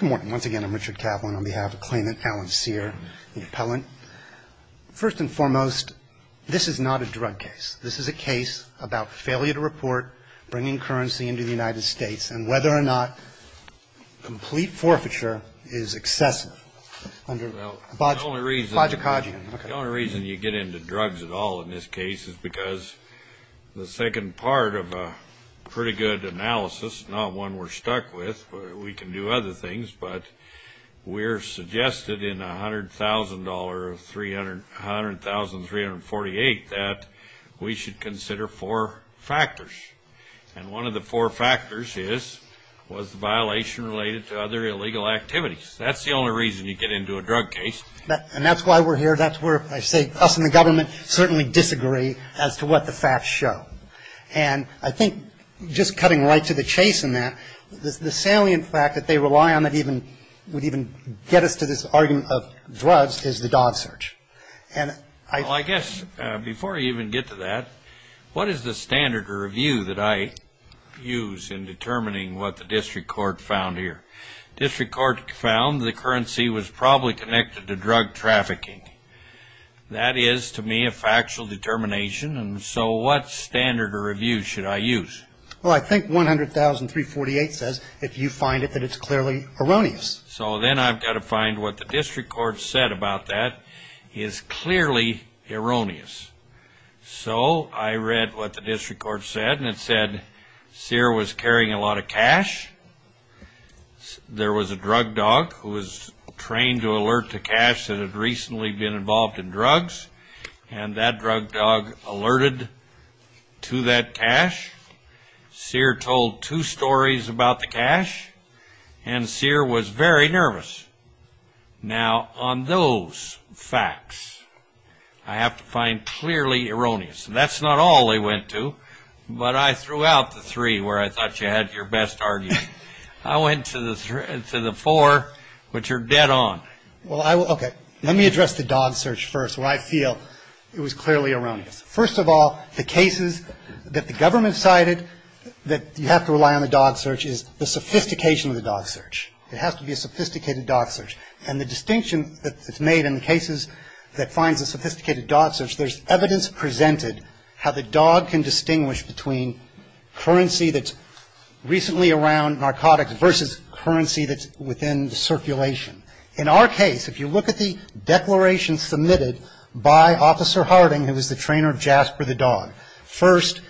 Good morning. Once again, I'm Richard Kaplan on behalf of claimant Alain Cyr, the appellant. First and foremost, this is not a drug case. This is a case about failure to report, bringing currency into the United States, and whether or not complete forfeiture is excessive. The only reason you get into drugs at all in this case is because the second part of a pretty good analysis, not one we're stuck with, but we can do other things, but we're suggested in $100,000 of $100,348 that we should consider four factors. And one of the four factors is, was the violation related to other illegal activities. That's the only reason you get into a drug case. And that's why we're here. That's where I say us and the government certainly disagree as to what the facts show. And I think just cutting right to the chase in that, the salient fact that they rely on that even would even get us to this argument of drugs is the DoD search. And I guess before you even get to that, what is the standard of review that I use in determining what the district court found here? District court found the currency was probably connected to drug trafficking. That is, to me, a factual determination. And so what standard of review should I use? Well, I think $100,348 says, if you find it, that it's clearly erroneous. So then I've got to find what the district court said about that is clearly erroneous. So I read what the district court said, and it said Sear was carrying a lot of cash. There was a drug dog who was trained to alert to cash that had recently been involved in drugs, and that drug dog alerted to that cash. Sear told two stories about the cash, and Sear was very nervous. Now, on those facts, I have to find clearly erroneous. That's not all they went to, but I threw out the three where I thought you had your best argument. I went to the four, which are dead on. Okay. Let me address the dog search first where I feel it was clearly erroneous. First of all, the cases that the government cited that you have to rely on the dog search is the sophistication of the dog search. It has to be a sophisticated dog search. And the distinction that's made in the cases that finds a sophisticated dog search, there's evidence presented how the dog can distinguish between currency that's recently around narcotics versus currency that's within the circulation. In our case, if you look at the declaration submitted by Officer Harding, who was the trainer of Jasper the dog. First,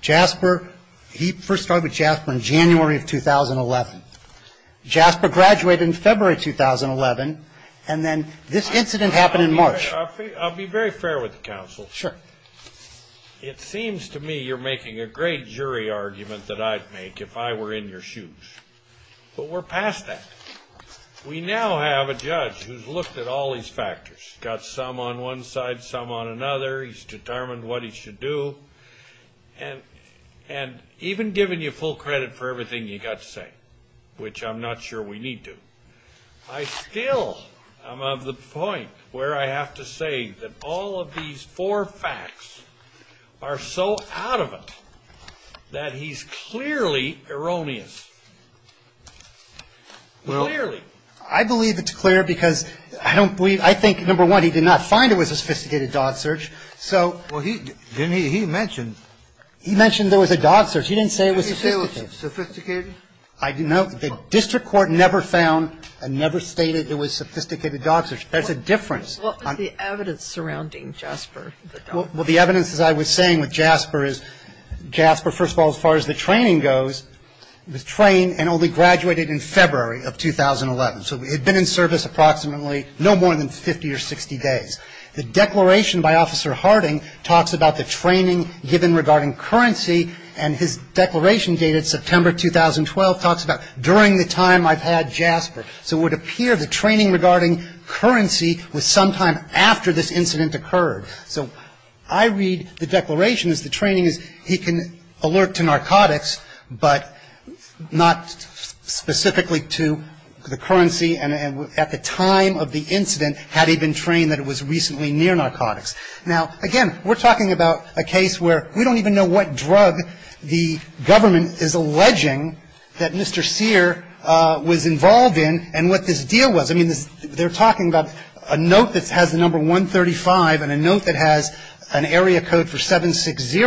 Jasper, he first started with Jasper in January of 2011. Jasper graduated in February 2011, and then this incident happened in March. I'll be very fair with the counsel. Sure. It seems to me you're making a great jury argument that I'd make if I were in your shoes. But we're past that. We now have a judge who's looked at all these factors, got some on one side, some on another. He's determined what he should do. And even giving you full credit for everything you got to say, which I'm not sure we need to, I still am of the point where I have to say that all of these four facts are so out of it that he's clearly erroneous. Clearly. I believe it's clear because I don't believe, I think, number one, he did not find it was a sophisticated dog search. So. Well, he mentioned. He mentioned there was a dog search. He didn't say it was sophisticated. He didn't say it was sophisticated? No. The district court never found and never stated it was sophisticated dog search. There's a difference. What was the evidence surrounding Jasper the dog? Well, the evidence, as I was saying, with Jasper is Jasper, first of all, as far as the training goes, was trained and only graduated in February of 2011. So he had been in service approximately no more than 50 or 60 days. The declaration by Officer Harding talks about the training given regarding currency, and his declaration dated September 2012 talks about during the time I've had Jasper. So it would appear the training regarding currency was sometime after this incident occurred. So I read the declaration as the training is he can alert to narcotics, but not specifically to the currency. And at the time of the incident had he been trained that it was recently near narcotics. Now, again, we're talking about a case where we don't even know what drug the government is alleging that Mr. Sear was involved in and what this deal was. I mean, they're talking about a note that has the number 135 and a note that has an area code for 760.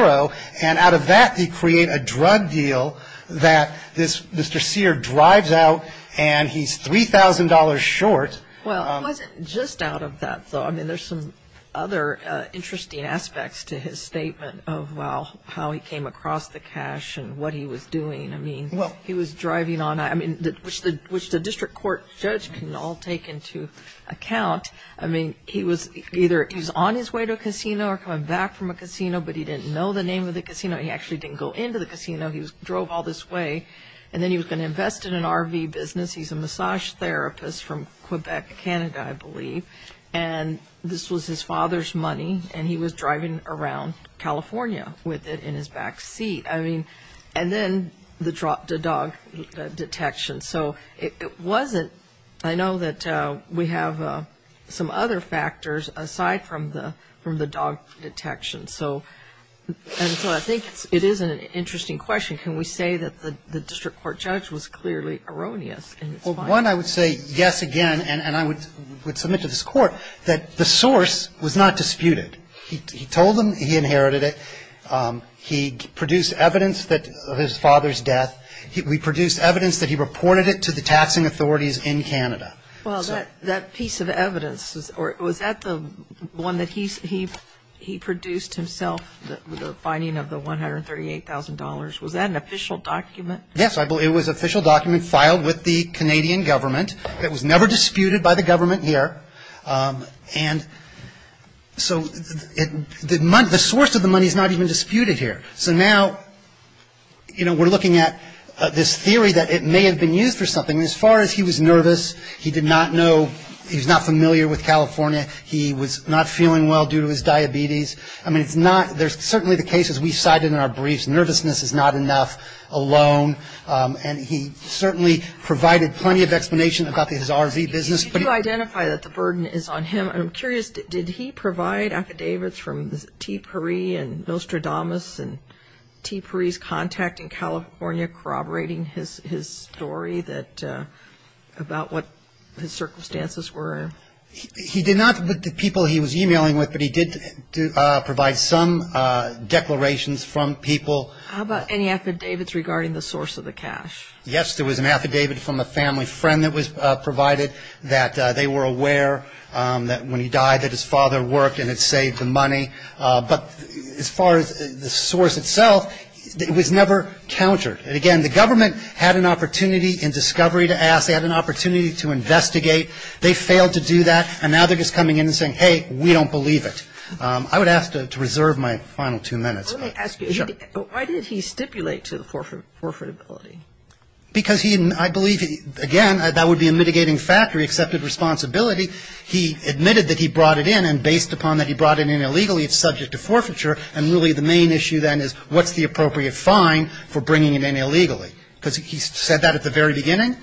And out of that, they create a drug deal that this Mr. Sear drives out and he's $3,000 short. Well, it wasn't just out of that, though. I mean, there's some other interesting aspects to his statement of how he came across the cash and what he was doing. I mean, he was driving on, I mean, which the district court judge can all take into account. I mean, he was either on his way to a casino or coming back from a casino, but he didn't know the name of the casino. He actually didn't go into the casino. He drove all this way, and then he was going to invest in an RV business. He's a massage therapist from Quebec, Canada, I believe. And this was his father's money, and he was driving around California with it in his back seat. I mean, and then the dog detection. So it wasn't – I know that we have some other factors aside from the dog detection. And so I think it is an interesting question. Can we say that the district court judge was clearly erroneous in his finding? Well, one, I would say, yes, again, and I would submit to this Court that the source was not disputed. He told them he inherited it. He produced evidence of his father's death. We produced evidence that he reported it to the taxing authorities in Canada. Well, that piece of evidence, was that the one that he produced himself, the finding of the $138,000? Was that an official document? Yes, it was an official document filed with the Canadian government. It was never disputed by the government here. And so the source of the money is not even disputed here. So now, you know, we're looking at this theory that it may have been used for something. As far as he was nervous, he did not know – he was not familiar with California. He was not feeling well due to his diabetes. I mean, it's not – there's certainly the cases we cited in our briefs. Nervousness is not enough alone, and he certainly provided plenty of explanation about his RV business. Did you identify that the burden is on him? And I'm curious, did he provide affidavits from the TIPRI and Nostradamus and TIPRI's contact in California corroborating his story that – about what his circumstances were? He did not, but the people he was e-mailing with, but he did provide some declarations from people. How about any affidavits regarding the source of the cash? Yes, there was an affidavit from a family friend that was provided that they were aware that when he died that his father worked and had saved the money. But as far as the source itself, it was never countered. And, again, the government had an opportunity in discovery to ask. They had an opportunity to investigate. They failed to do that, and now they're just coming in and saying, hey, we don't believe it. I would ask to reserve my final two minutes. Let me ask you, why did he stipulate to the forfeitability? Because he – I believe, again, that would be a mitigating factor. He accepted responsibility. He admitted that he brought it in, and based upon that he brought it in illegally, it's subject to forfeiture. And really the main issue then is what's the appropriate fine for bringing it in illegally? Because he said that at the very beginning,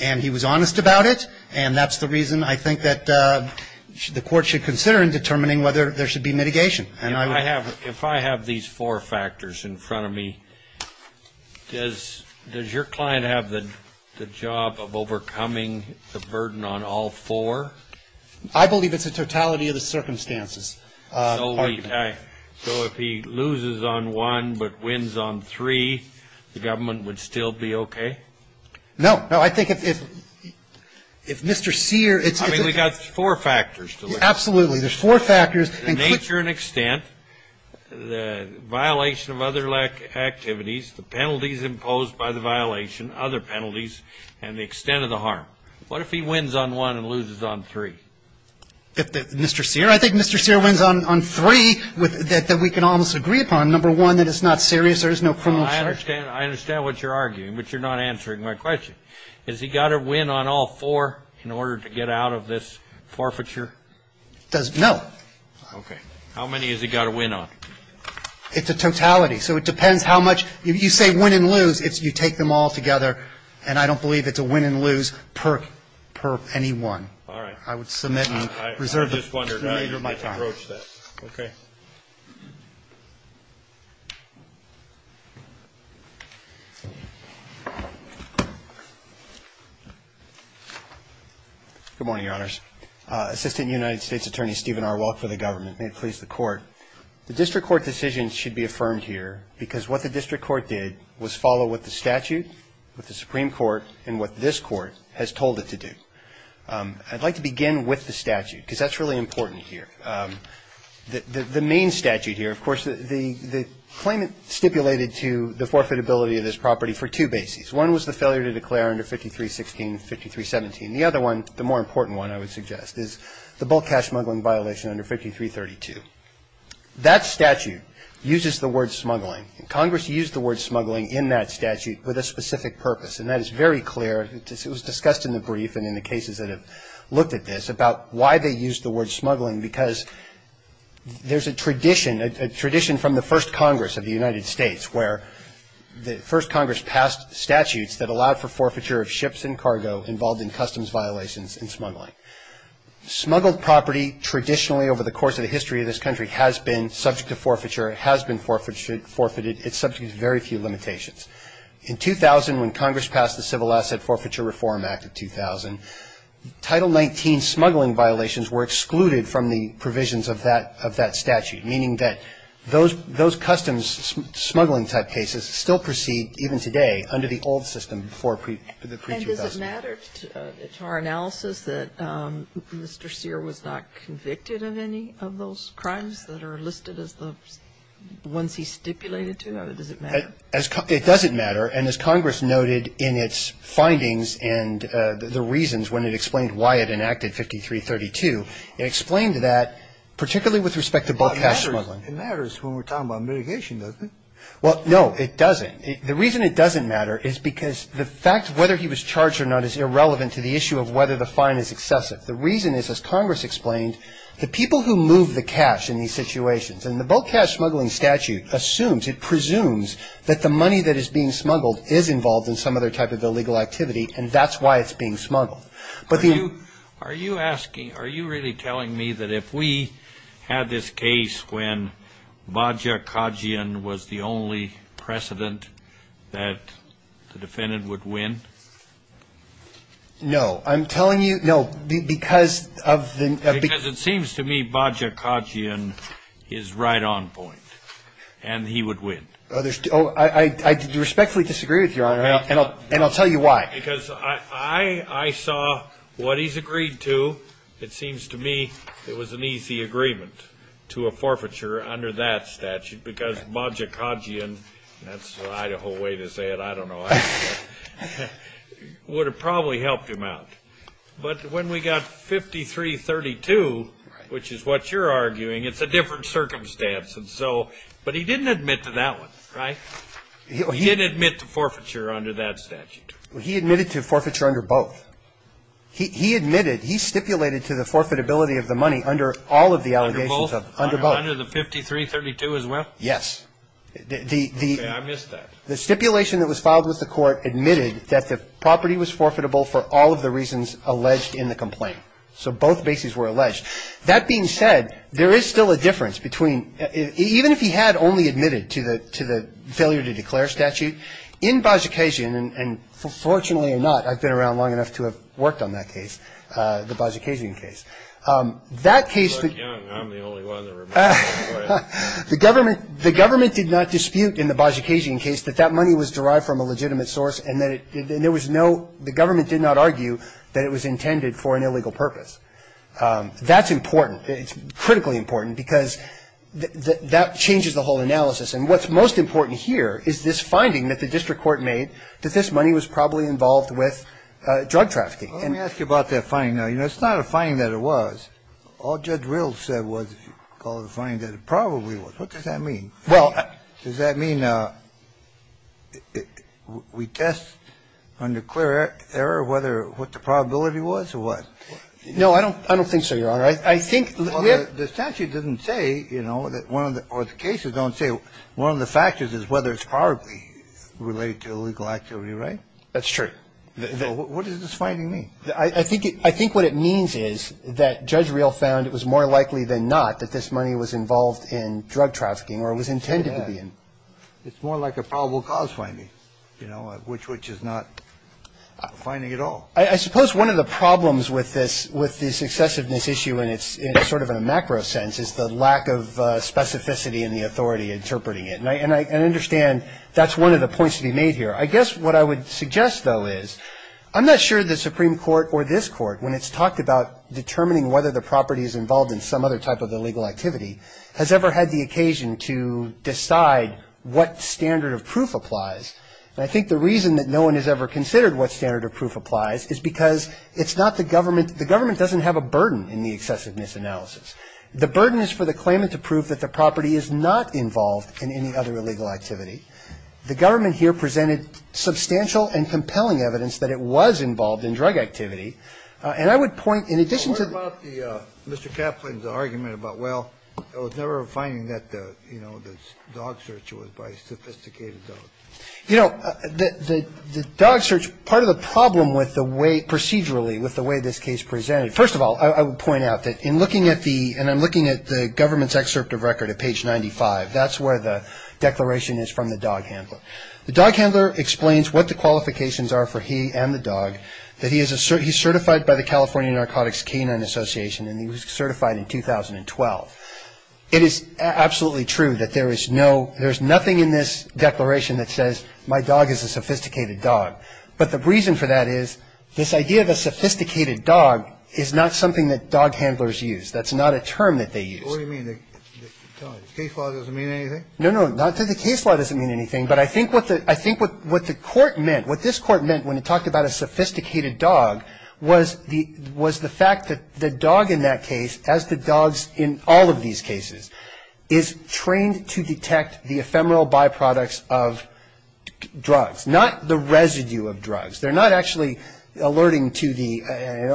and he was honest about it, and that's the reason I think that the Court should consider in determining whether there should be mitigation. And I would – If I have these four factors in front of me, does your client have the job of overcoming the burden on all four? I believe it's a totality of the circumstances. So if he loses on one but wins on three, the government would still be okay? No. No. I think if Mr. Sear – I mean, we've got four factors to look at. Absolutely. There's four factors. Nature and extent, the violation of other activities, the penalties imposed by the violation, other penalties, and the extent of the harm. What if he wins on one and loses on three? If Mr. Sear – I think Mr. Sear wins on three that we can almost agree upon. Number one, that it's not serious, there is no criminal charge. I understand what you're arguing, but you're not answering my question. Has he got to win on all four in order to get out of this forfeiture? No. Okay. How many has he got to win on? It's a totality. So it depends how much – if you say win and lose, you take them all together, and I don't believe it's a win and lose per anyone. All right. I would submit and reserve the remainder of my time. I just wondered. I can approach that. Okay. Good morning, Your Honors. Assistant United States Attorney Stephen R. Welk for the government. May it please the Court. The district court decision should be affirmed here because what the district court did was follow what the statute, what the Supreme Court, and what this Court has told it to do. I'd like to begin with the statute because that's really important here. The main statute here, of course, the claimant stipulated to the forfeitability of this property for two bases. One was the failure to declare under 53-16, 53-17. The other one, the more important one, I would suggest, is the bulk cash smuggling violation under 53-32. That statute uses the word smuggling, and Congress used the word smuggling in that statute with a specific purpose, and that is very clear. It was discussed in the brief and in the cases that have looked at this about why they used the word smuggling because there's a tradition, a tradition from the first Congress of the United States, where the first Congress passed statutes that allowed for forfeiture of ships and cargo involved in customs violations and smuggling. Smuggled property traditionally over the course of the history of this country has been subject to forfeiture, has been forfeited. It's subject to very few limitations. In 2000, when Congress passed the Civil Asset Forfeiture Reform Act of 2000, Title 19 smuggling violations were excluded from the provisions of that statute, meaning that those customs smuggling type cases still proceed even today under the old system for the pre-2000. And does it matter to our analysis that Mr. Sear was not convicted of any of those crimes that are listed as the ones he stipulated to? Does it matter? It doesn't matter, and as Congress noted in its findings and the reasons when it explained why it enacted 53-32, it explained that, particularly with respect to bulk cash smuggling. It matters when we're talking about mitigation, doesn't it? Well, no, it doesn't. The reason it doesn't matter is because the fact whether he was charged or not is irrelevant to the issue of whether the fine is excessive. The reason is, as Congress explained, the people who move the cash in these situations, and the bulk cash smuggling statute assumes, it presumes, that the money that is being smuggled is involved in some other type of illegal activity, and that's why it's being smuggled. Are you asking, are you really telling me that if we had this case when Baja Kadhijan was the only precedent that the defendant would win? No. I'm telling you, no, because of the ñ Because it seems to me Baja Kadhijan is right on point, and he would win. I respectfully disagree with Your Honor, and I'll tell you why. Because I saw what he's agreed to. It seems to me it was an easy agreement to a forfeiture under that statute because Baja Kadhijan, that's the Idaho way to say it, I don't know, would have probably helped him out. But when we got 5332, which is what you're arguing, it's a different circumstance. And so, but he didn't admit to that one, right? He didn't admit to forfeiture under that statute. He admitted to forfeiture under both. He admitted, he stipulated to the forfeitability of the money under all of the allegations. Under both? Under both. Under the 5332 as well? Yes. Okay. I missed that. The stipulation that was filed with the Court admitted that the property was forfeitable for all of the reasons alleged in the complaint. So both bases were alleged. That being said, there is still a difference between, even if he had only admitted to the failure to declare statute, in Baja Kadhijan, and fortunately or not, I've been around long enough to have worked on that case, the Baja Kadhijan case. That case... I'm the only one that remembers that. The government did not dispute in the Baja Kadhijan case that that money was derived from a legitimate source and there was no, the government did not argue that it was intended for an illegal purpose. That's important. It's critically important because that changes the whole analysis. And what's most important here is this finding that the district court made that this money was probably involved with drug trafficking. Let me ask you about that finding now. You know, it's not a finding that it was. All Judge Rills said was, if you call it a finding, that it probably was. What does that mean? Well... Does that mean we test under clear error what the probability was or what? No, I don't think so, Your Honor. I think... Well, the statute doesn't say, you know, or the cases don't say, one of the factors is whether it's probably related to illegal activity, right? That's true. What does this finding mean? I think what it means is that Judge Rills found it was more likely than not that this money was involved in drug trafficking or was intended to be. It's more like a probable cause finding, you know, which is not a finding at all. I suppose one of the problems with this excessiveness issue, and it's sort of in a macro sense, is the lack of specificity in the authority interpreting it. And I understand that's one of the points to be made here. I guess what I would suggest, though, is I'm not sure the Supreme Court or this Court, when it's talked about determining whether the property is involved in some other type of illegal activity, has ever had the occasion to decide what standard of proof applies. And I think the reason that no one has ever considered what standard of proof applies is because it's not the government. The government doesn't have a burden in the excessiveness analysis. The burden is for the claimant to prove that the property is not involved in any other illegal activity. The government here presented substantial and compelling evidence that it was involved in drug activity. And I would point, in addition to the... What about Mr. Kaplan's argument about, well, I was never finding that the dog search was by a sophisticated dog. You know, the dog search, part of the problem with the way, procedurally, with the way this case presented, first of all, I would point out that in looking at the, and I'm looking at the government's excerpt of record at page 95, that's where the declaration is from the dog handler. The dog handler explains what the qualifications are for he and the dog, that he's certified by the California Narcotics Canine Association and he was certified in 2012. It is absolutely true that there is no, there's nothing in this declaration that says my dog is a sophisticated dog. But the reason for that is this idea of a sophisticated dog is not something that dog handlers use. That's not a term that they use. What do you mean? The case law doesn't mean anything? No, no, not that the case law doesn't mean anything, but I think what the court meant, what this court meant when it talked about a sophisticated dog, was the fact that the dog in that case, as the dogs in all of these cases, is trained to detect the ephemeral byproducts of drugs, not the residue of drugs. They're not actually alerting to the,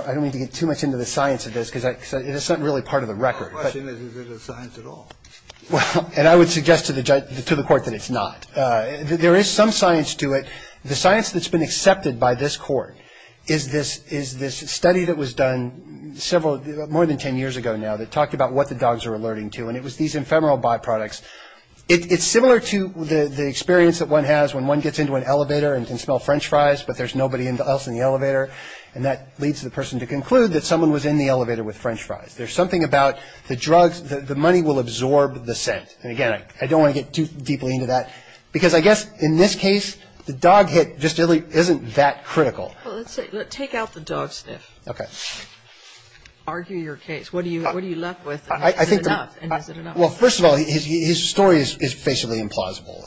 I don't mean to get too much into the science of this, because it's not really part of the record. My question is, is it a science at all? Well, and I would suggest to the court that it's not. There is some science to it. The science that's been accepted by this court is this study that was done several, more than ten years ago now that talked about what the dogs are alerting to, and it was these ephemeral byproducts. It's similar to the experience that one has when one gets into an elevator and can smell french fries, but there's nobody else in the elevator, and that leads the person to conclude that someone was in the elevator with french fries. There's something about the drugs, the money will absorb the scent. And again, I don't want to get too deeply into that, because I guess in this case the dog hit just isn't that critical. Well, let's take out the dog sniff. Okay. Argue your case. What are you left with? Is it enough? Well, first of all, his story is basically implausible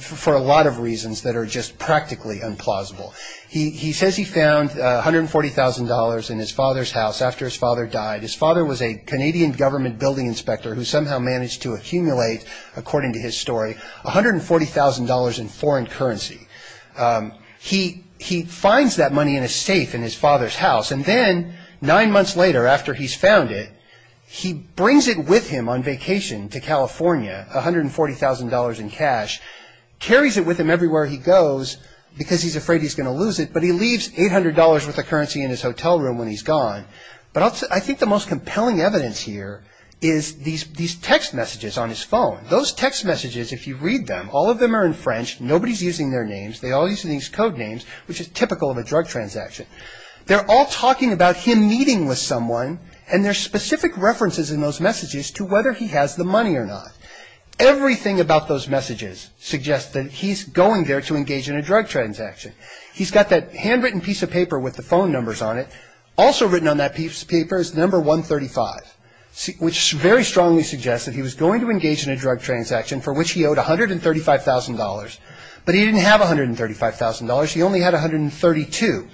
for a lot of reasons that are just practically implausible. He says he found $140,000 in his father's house after his father died. His father was a Canadian government building inspector who somehow managed to accumulate, according to his story, $140,000 in foreign currency. He finds that money in a safe in his father's house, and then nine months later after he's found it, he brings it with him on vacation to California, $140,000 in cash, carries it with him everywhere he goes because he's afraid he's going to lose it, but he leaves $800 worth of currency in his hotel room when he's gone. But I think the most compelling evidence here is these text messages on his phone. Those text messages, if you read them, all of them are in French. Nobody's using their names. They all use these code names, which is typical of a drug transaction. They're all talking about him meeting with someone, and there's specific references in those messages to whether he has the money or not. Everything about those messages suggests that he's going there to engage in a drug transaction. He's got that handwritten piece of paper with the phone numbers on it, also written on that piece of paper is the number 135, which very strongly suggests that he was going to engage in a drug transaction for which he owed $135,000, but he didn't have $135,000. He only had $132,000.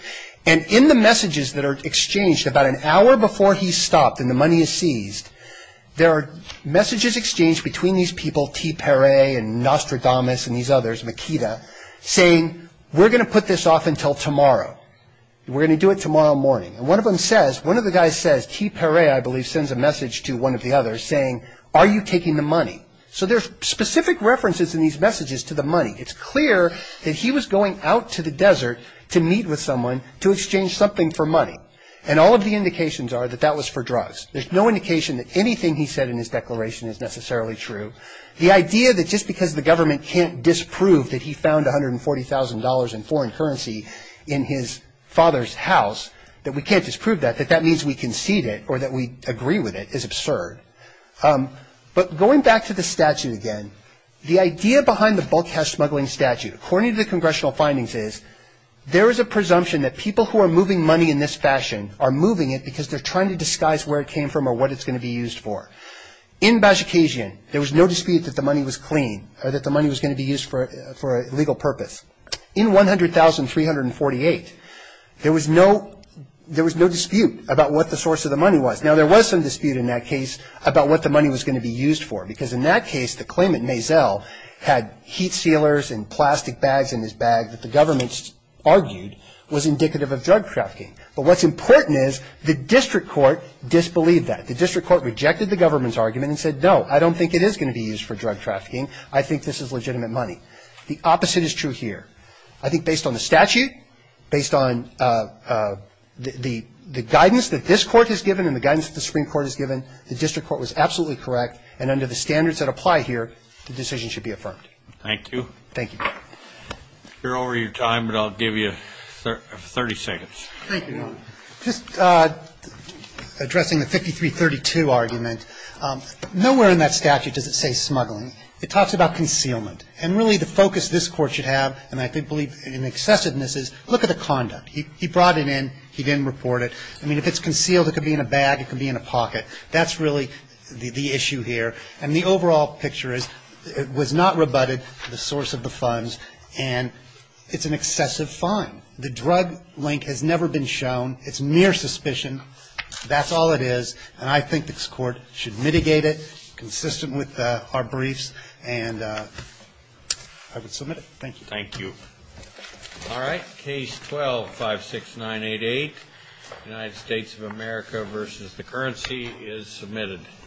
And in the messages that are exchanged about an hour before he's stopped and the money is seized, there are messages exchanged between these people, T. Perret and Nostradamus and these others, Makita saying, we're going to put this off until tomorrow. We're going to do it tomorrow morning. And one of them says, one of the guys says, T. Perret, I believe, sends a message to one of the others saying, are you taking the money? So there's specific references in these messages to the money. It's clear that he was going out to the desert to meet with someone to exchange something for money, and all of the indications are that that was for drugs. There's no indication that anything he said in his declaration is necessarily true. The idea that just because the government can't disprove that he found $140,000 in foreign currency in his father's house, that we can't disprove that, that that means we concede it or that we agree with it, is absurd. But going back to the statute again, the idea behind the bulkhouse smuggling statute, according to the congressional findings, is there is a presumption that people who are moving money in this fashion are moving it because they're trying to disguise where it came from or what it's going to be used for. In Bajikasian, there was no dispute that the money was clean or that the money was going to be used for a legal purpose. In $100,348, there was no dispute about what the source of the money was. Now, there was some dispute in that case about what the money was going to be used for because in that case, the claimant, Maisel, had heat sealers and plastic bags in his bag that the government argued was indicative of drug trafficking. But what's important is the district court disbelieved that. The district court rejected the government's argument and said, no, I don't think it is going to be used for drug trafficking. I think this is legitimate money. The opposite is true here. I think based on the statute, based on the guidance that this Court has given and the guidance that the Supreme Court has given, the district court was absolutely correct, and under the standards that apply here, the decision should be affirmed. Thank you. Thank you. You're over your time, but I'll give you 30 seconds. Thank you, Your Honor. Just addressing the 5332 argument, nowhere in that statute does it say smuggling. It talks about concealment. And really the focus this Court should have, and I believe in excessiveness, is look at the conduct. He brought it in. He didn't report it. I mean, if it's concealed, it could be in a bag. It could be in a pocket. That's really the issue here. And the overall picture is it was not rebutted, the source of the funds, and it's an excessive fine. The drug link has never been shown. It's mere suspicion. That's all it is. And I think this Court should mitigate it, consistent with our briefs, and I would submit it. Thank you. Thank you. All right. Case 12-56988, United States of America v. The Currency, is submitted.